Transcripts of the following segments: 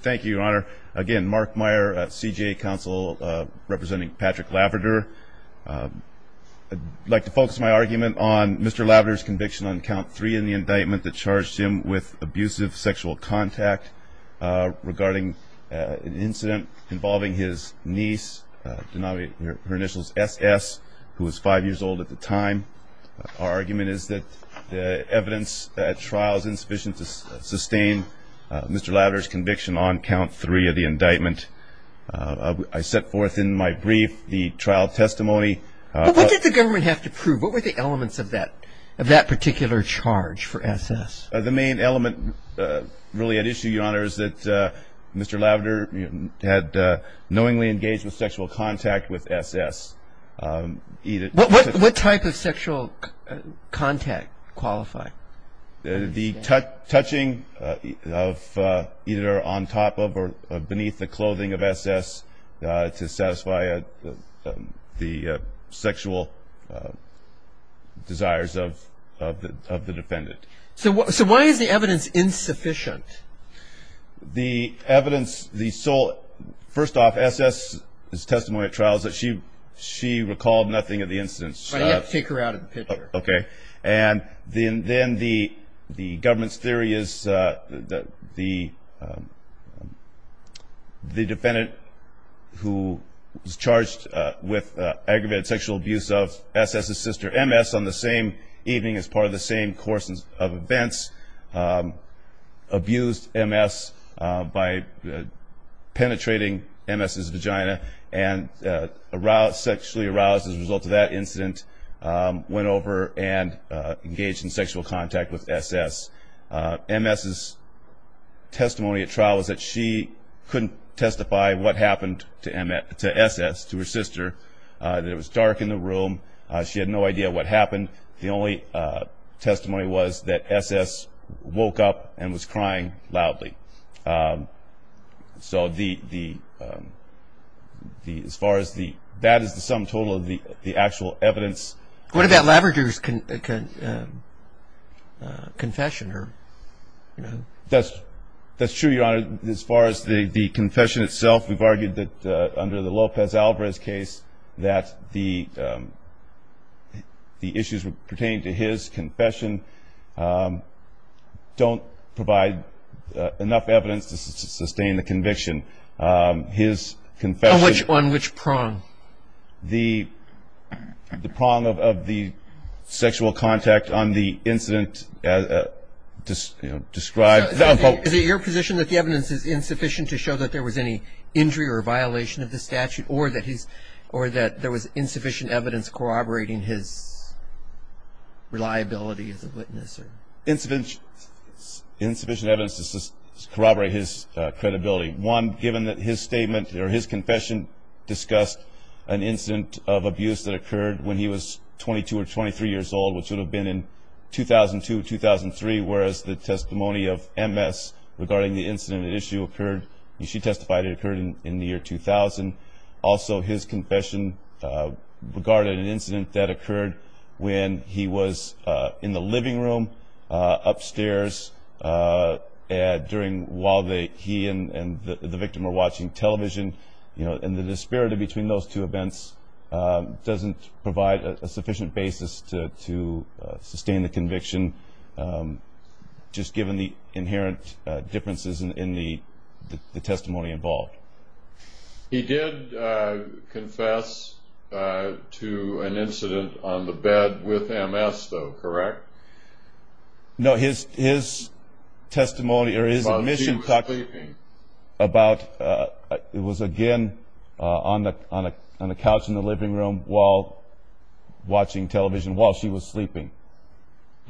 Thank you, Your Honor. Again, Mark Meyer, CJA Counsel, representing Patrick Laverdure. I'd like to focus my argument on Mr. Laverdure's conviction on count three in the indictment that charged him with abusive sexual contact regarding an incident involving his niece, denoting her initials S.S., who was five years old at the time. Our argument is that the conviction on count three of the indictment, I set forth in my brief the trial testimony. What did the government have to prove? What were the elements of that particular charge for S.S.? The main element really at issue, Your Honor, is that Mr. Laverdure had knowingly engaged with sexual contact with S.S. What type of sexual contact qualify? The touching of either on top of or beneath the clothing of S.S. to satisfy the sexual desires of the defendant. So why is the evidence insufficient? The evidence, the sole – first off, S.S.'s testimony at trial is that she recalled nothing of the incident. But he had to take her out of the picture. Then the government's theory is that the defendant, who was charged with aggravated sexual abuse of S.S.'s sister, M.S., on the same evening as part of the same course of events, abused M.S. by penetrating M.S.'s vagina and sexually aroused as a result of that incident, went over and engaged in sexual contact with S.S. M.S.'s testimony at trial was that she couldn't testify what happened to S.S., to her sister, that it was dark in the room. She had no idea what happened. The only testimony was that S.S. woke up and was crying loudly. So the – as far as the – that is the sum total of the actual evidence. What about Laverger's confession? That's true, Your Honor. As far as the confession itself, we've argued that under the Lopez-Alvarez case, that the issues pertaining to his confession don't provide enough evidence to sustain the conviction. His confession – On which prong? The prong of the sexual contact on the incident described – Is it your position that the evidence is insufficient to show that there was any injury or violation of the statute or that there was insufficient evidence corroborating his reliability as a witness? Insufficient evidence to corroborate his credibility. One, given that his statement or his confession discussed an incident of abuse that occurred when he was 22 or 23 years old, which would have been in 2002, 2003, whereas the testimony of M.S. regarding the incident issue occurred – she testified it occurred in the year 2000. Also, his confession regarded an incident that occurred when he was in the living room upstairs during – while he and the victim were watching television. And the disparity between those two events doesn't provide a sufficient basis to sustain the conviction, just given the inherent differences in the testimony involved. He did confess to an incident on the bed with M.S., though, correct? No, his testimony or his admission – While she was sleeping. About – it was, again, on the couch in the living room while watching television, while she was sleeping.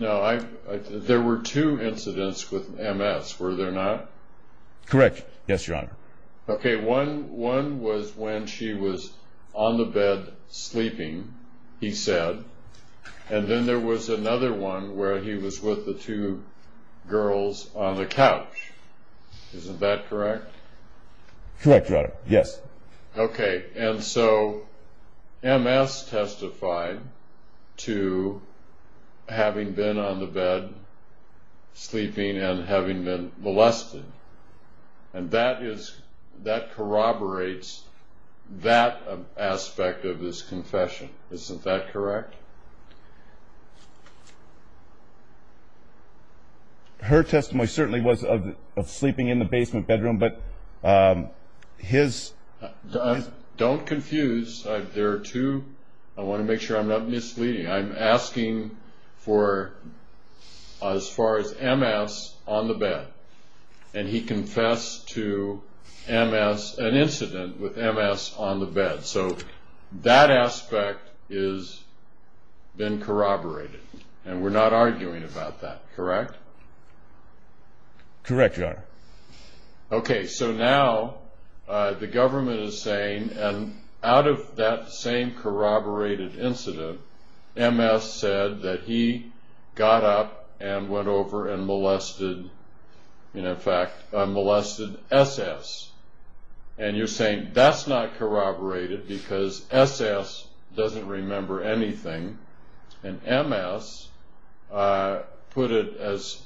No, I – there were two incidents with M.S., were there not? Correct, yes, Your Honor. Okay, one was when she was on the bed sleeping, he said, and then there was another one where he was with the two girls on the couch. Isn't that correct? Correct, Your Honor, yes. Okay, and so M.S. testified to having been on the bed sleeping and having been molested. And that is – that corroborates that aspect of his confession. Isn't that correct? Yes, Your Honor. Her testimony certainly was of sleeping in the basement bedroom, but his – Don't confuse. There are two – I want to make sure I'm not misleading. I'm asking for as far as M.S. on the bed. And he confessed to M.S., an incident with M.S. on the bed. So that aspect has been corroborated, and we're not arguing about that, correct? Correct, Your Honor. Okay, so now the government is saying, and out of that same corroborated incident, M.S. said that he got up and went over and molested – in fact, molested S.S. And you're saying that's not corroborated because S.S. doesn't remember anything, and M.S. put it as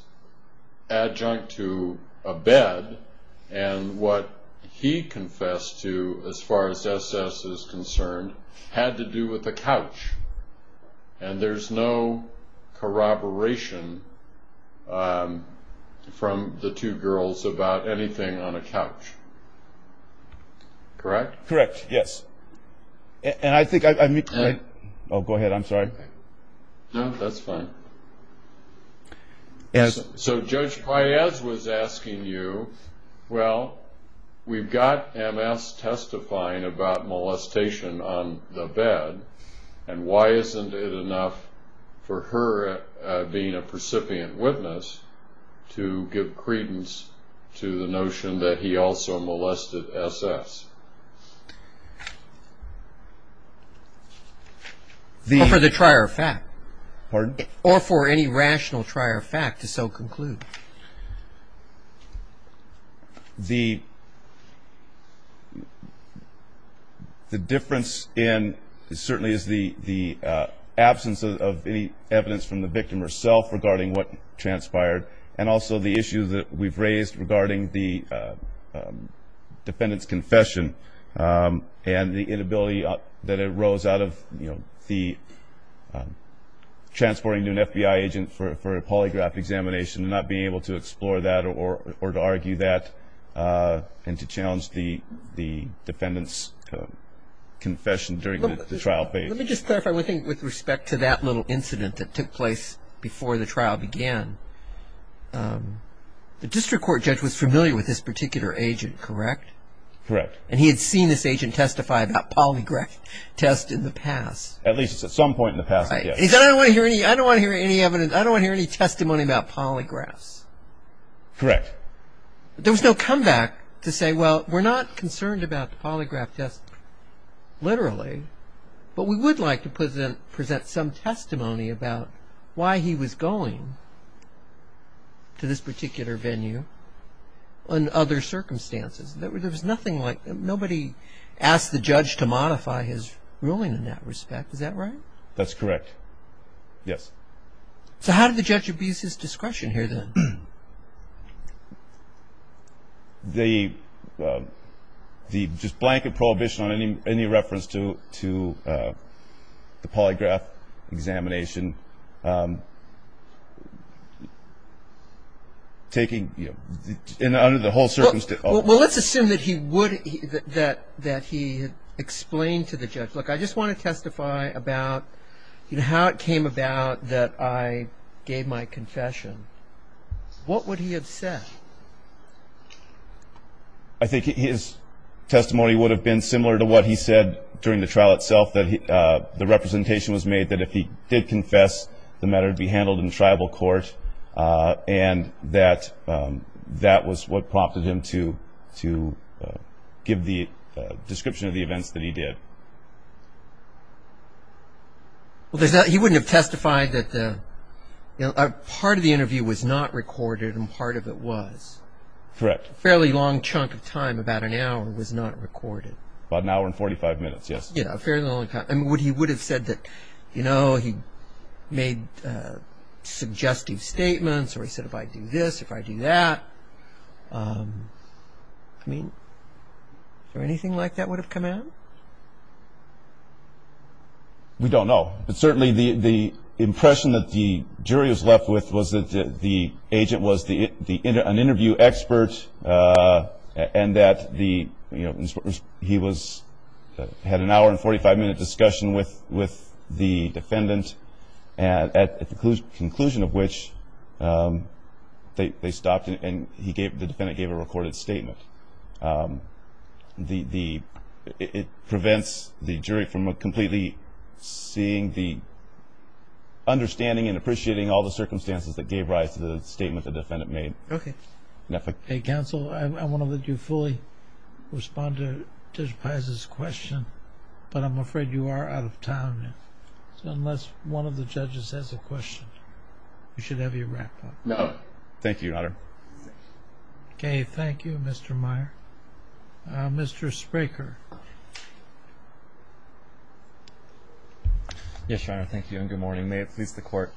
adjunct to a bed, and what he confessed to, as far as S.S. is concerned, had to do with a couch, and there's no corroboration from the two girls about anything on a couch. Correct? Correct, yes. And I think – oh, go ahead, I'm sorry. No, that's fine. So Judge Paez was asking you, well, we've got M.S. testifying about molestation on the bed, and why isn't it enough for her being a precipient witness to give credence to the notion that he also molested S.S.? For the trier fact. Pardon? Or for any rational trier fact to so conclude. The difference certainly is the absence of any evidence from the victim herself regarding what transpired, and also the issue that we've raised regarding the defendant's confession and the inability that arose out of the transporting an FBI agent for a polygraph examination and not being able to explore that or to argue that, and to challenge the defendant's confession during the trial phase. Let me just clarify one thing with respect to that little incident that took place before the trial began. The district court judge was familiar with this particular agent, correct? Correct. And he had seen this agent testify about polygraph tests in the past. At least at some point in the past, yes. He said, I don't want to hear any evidence, I don't want to hear any testimony about polygraphs. Correct. There was no comeback to say, well, we're not concerned about the polygraph test literally, but we would like to present some testimony about why he was going to this particular venue under other circumstances. There was nothing like that. Nobody asked the judge to modify his ruling in that respect. Is that right? That's correct. Yes. So how did the judge abuse his discretion here then? The just blanket prohibition on any reference to the polygraph examination, taking, you know, under the whole circumstance. Well, let's assume that he would, that he explained to the judge, look, I just want to testify about, you know, how it came about that I gave my confession. What would he have said? I think his testimony would have been similar to what he said during the trial itself, that the representation was made that if he did confess, the matter would be handled in tribal court, and that that was what prompted him to give the description of the events that he did. Well, he wouldn't have testified that part of the interview was not recorded and part of it was. Correct. A fairly long chunk of time, about an hour, was not recorded. About an hour and 45 minutes, yes. Yes, a fairly long time. I mean, he would have said that, you know, he made suggestive statements, or he said if I do this, if I do that. I mean, anything like that would have come out? We don't know. But certainly the impression that the jury was left with was that the agent was an interview expert and that he had an hour and 45-minute discussion with the defendant, at the conclusion of which they stopped and the defendant gave a recorded statement. It prevents the jury from completely seeing the understanding and appreciating all the circumstances that gave rise to the statement the defendant made. Okay. Counsel, I want to let you fully respond to Judge Pais' question, but I'm afraid you are out of time, unless one of the judges has a question. You should have your wrap-up. No. Thank you, Your Honor. Okay. Thank you, Mr. Meyer. Mr. Spraker. Yes, Your Honor. Thank you, and good morning. May it please the Court.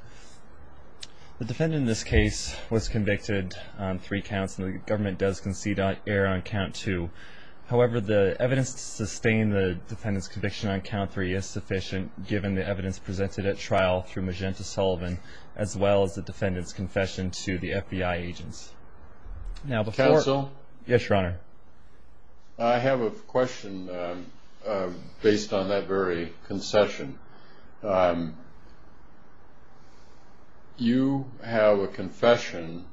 The defendant in this case was convicted on three counts, and the government does concede error on count two. However, the evidence to sustain the defendant's conviction on count three is sufficient, given the evidence presented at trial through Magenta Sullivan, as well as the defendant's confession to the FBI agents. Counsel? Yes, Your Honor. I have a question based on that very concession. You have a confession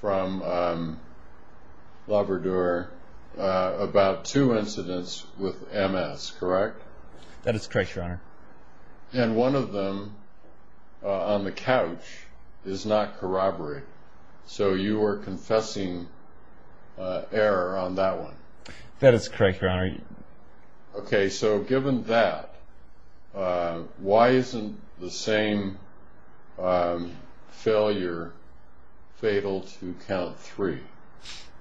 from Labrador about two incidents with MS, correct? That is correct, Your Honor. And one of them, on the couch, is not corroborated. So you are confessing error on that one. That is correct, Your Honor. Okay. So given that, why isn't the same failure fatal to count three,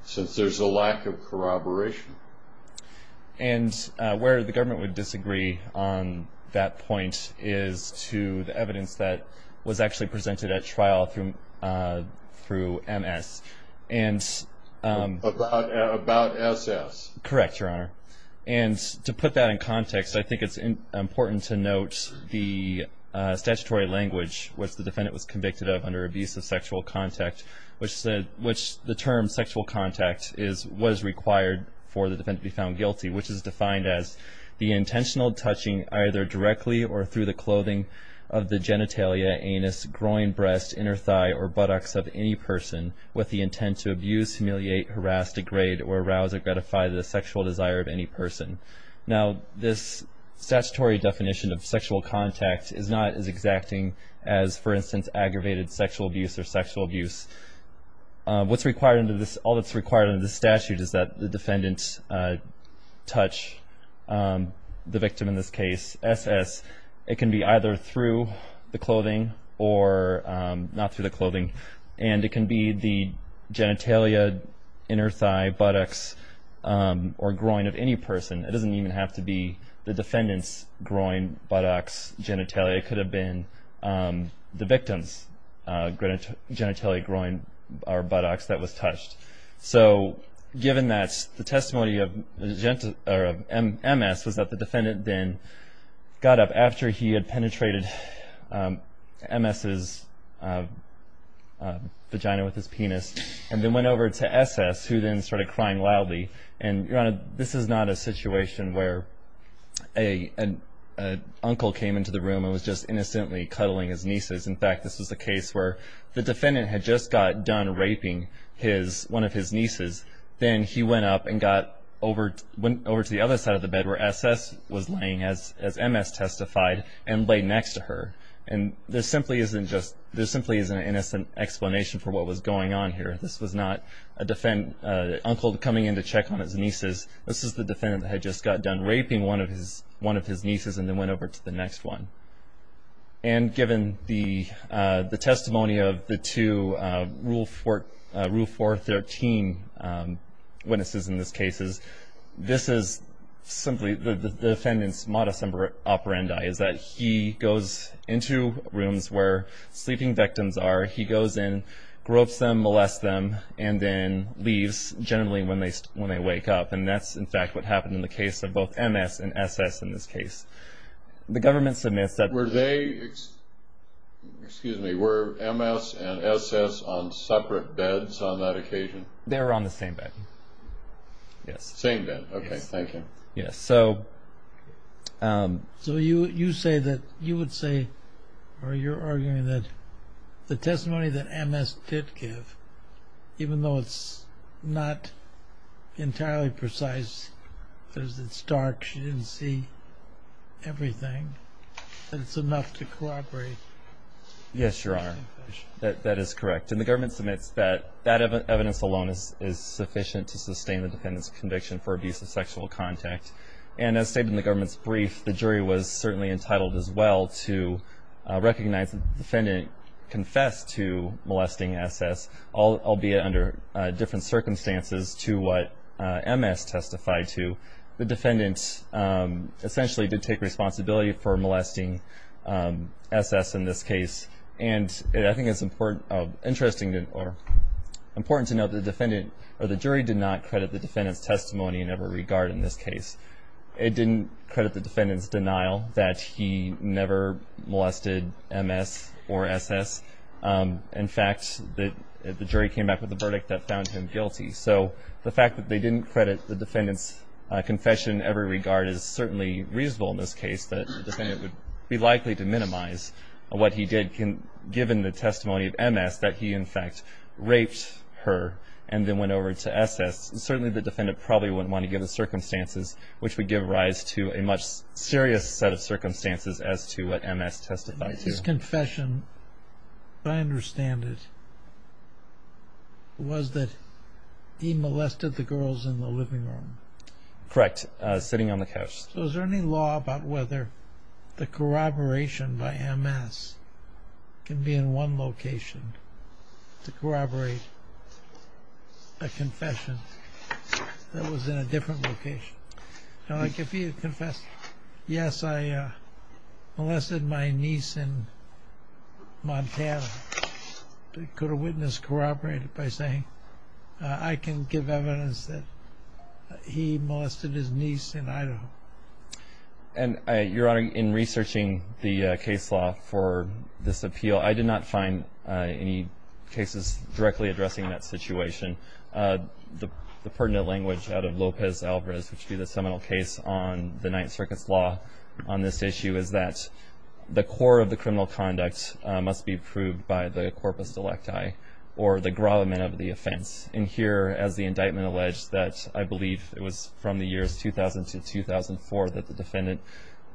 since there's a lack of corroboration? And where the government would disagree on that point is to the evidence that was actually presented at trial through MS. About SS. Correct, Your Honor. And to put that in context, I think it's important to note the statutory language, which the defendant was convicted of under abuse of sexual contact, which the term sexual contact was required for the defendant to be found guilty, which is defined as the intentional touching either directly or through the clothing of the genitalia, anus, groin, breast, inner thigh, or buttocks of any person with the intent to abuse, humiliate, harass, degrade, or arouse or gratify the sexual desire of any person. Now, this statutory definition of sexual contact is not as exacting as, for instance, aggravated sexual abuse or sexual abuse. All that's required under this statute is that the defendant touch the victim, in this case, SS. It can be either through the clothing or not through the clothing, and it can be the genitalia, inner thigh, buttocks, or groin of any person. It doesn't even have to be the defendant's groin, buttocks, genitalia. It could have been the victim's genitalia, groin, or buttocks that was touched. So given that, the testimony of MS was that the defendant then got up after he had penetrated MS's vagina with his penis and then went over to SS, who then started crying loudly. And, Your Honor, this is not a situation where an uncle came into the room and was just innocently cuddling his nieces. In fact, this was a case where the defendant had just got done raping one of his nieces. Then he went up and got over to the other side of the bed where SS was laying, as MS testified, and lay next to her. And there simply isn't an innocent explanation for what was going on here. This was not an uncle coming in to check on his nieces. This is the defendant that had just got done raping one of his nieces and then went over to the next one. And given the testimony of the two Rule 413 witnesses in this case, this is simply the defendant's modus operandi, is that he goes into rooms where sleeping victims are. He goes in, gropes them, molests them, and then leaves generally when they wake up. And that's, in fact, what happened in the case of both MS and SS in this case. The government submits that. Were they, excuse me, were MS and SS on separate beds on that occasion? They were on the same bed, yes. Same bed, okay, thank you. Yes, so. So you say that you would say, or you're arguing that the testimony that MS did give, even though it's not entirely precise because it's dark, she didn't see everything, that it's enough to corroborate. Yes, Your Honor, that is correct. And the government submits that that evidence alone is sufficient to sustain the defendant's conviction for abuse of sexual contact. And as stated in the government's brief, the jury was certainly entitled as well to recognize that the defendant confessed to molesting SS, albeit under different circumstances to what MS testified to. The defendant essentially did take responsibility for molesting SS in this case. And I think it's important to note that the defendant or the jury did not credit the defendant's testimony in every regard in this case. It didn't credit the defendant's denial that he never molested MS or SS. In fact, the jury came back with a verdict that found him guilty. So the fact that they didn't credit the defendant's confession in every regard is certainly reasonable in this case, that the defendant would be likely to minimize what he did given the testimony of MS, that he in fact raped her and then went over to SS. Certainly the defendant probably wouldn't want to give the circumstances, which would give rise to a much serious set of circumstances as to what MS testified to. His confession, as I understand it, was that he molested the girls in the living room. Correct, sitting on the couch. So is there any law about whether the corroboration by MS can be in one location to corroborate a confession that was in a different location? Like if he had confessed, yes, I molested my niece in Montana. Could a witness corroborate it by saying, I can give evidence that he molested his niece in Idaho? Your Honor, in researching the case law for this appeal, I did not find any cases directly addressing that situation. The pertinent language out of Lopez-Alvarez, which would be the seminal case on the Ninth Circuit's law on this issue, is that the core of the criminal conduct must be proved by the corpus delicti, or the grommet of the offense. And here, as the indictment alleged, that I believe it was from the years 2000 to 2004 that the defendant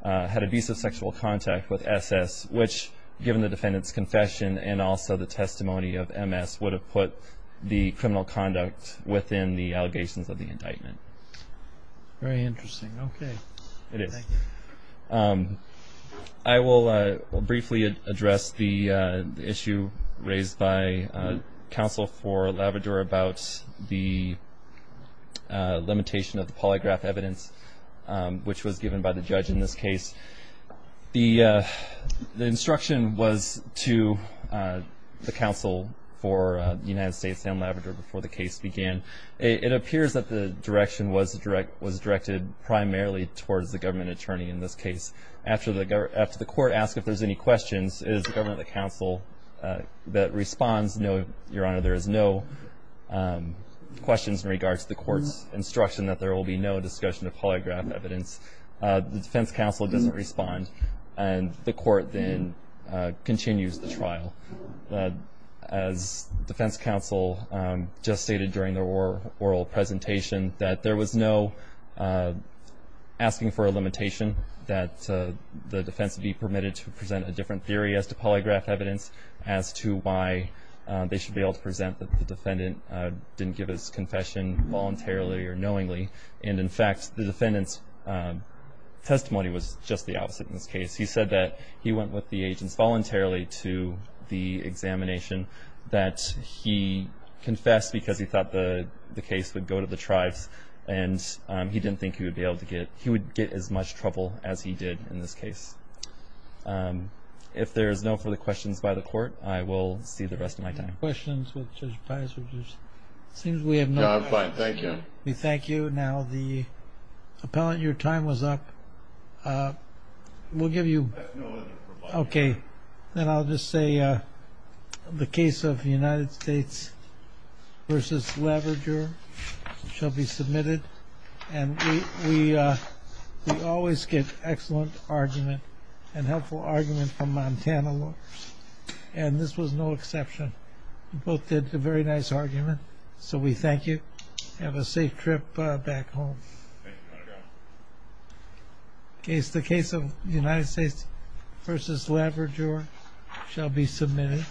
had abusive sexual contact with SS, which given the defendant's confession and also the testimony of MS, would have put the criminal conduct within the allegations of the indictment. Very interesting. Okay. It is. I will briefly address the issue raised by counsel for Laverdure about the limitation of the polygraph evidence, which was given by the judge in this case. The instruction was to the counsel for the United States and Laverdure before the case began. It appears that the direction was directed primarily towards the government attorney in this case. After the court asks if there's any questions, it is the government counsel that responds, no, Your Honor, there is no questions in regards to the court's instruction that there will be no discussion of polygraph evidence. The defense counsel doesn't respond, and the court then continues the trial. As defense counsel just stated during the oral presentation, that there was no asking for a limitation that the defense be permitted to present a different theory as to polygraph evidence as to why they should be able to present that the defendant didn't give his confession voluntarily or knowingly. And, in fact, the defendant's testimony was just the opposite in this case. He said that he went with the agents voluntarily to the examination, that he confessed because he thought the case would go to the tribes, and he didn't think he would be able to get it. He would get as much trouble as he did in this case. If there is no further questions by the court, I will see the rest of my time. Any questions with Judge Pius? It seems we have no questions. No, I'm fine. Thank you. We thank you. Now, the appellant, your time was up. We'll give you... I have no other reply. Okay. Then I'll just say the case of United States v. Leverger shall be submitted, and we always get excellent argument and helpful argument from Montana lawyers, and this was no exception. You both did a very nice argument, so we thank you. Have a safe trip back home. Thank you, Your Honor. Case of United States v. Leverger shall be submitted.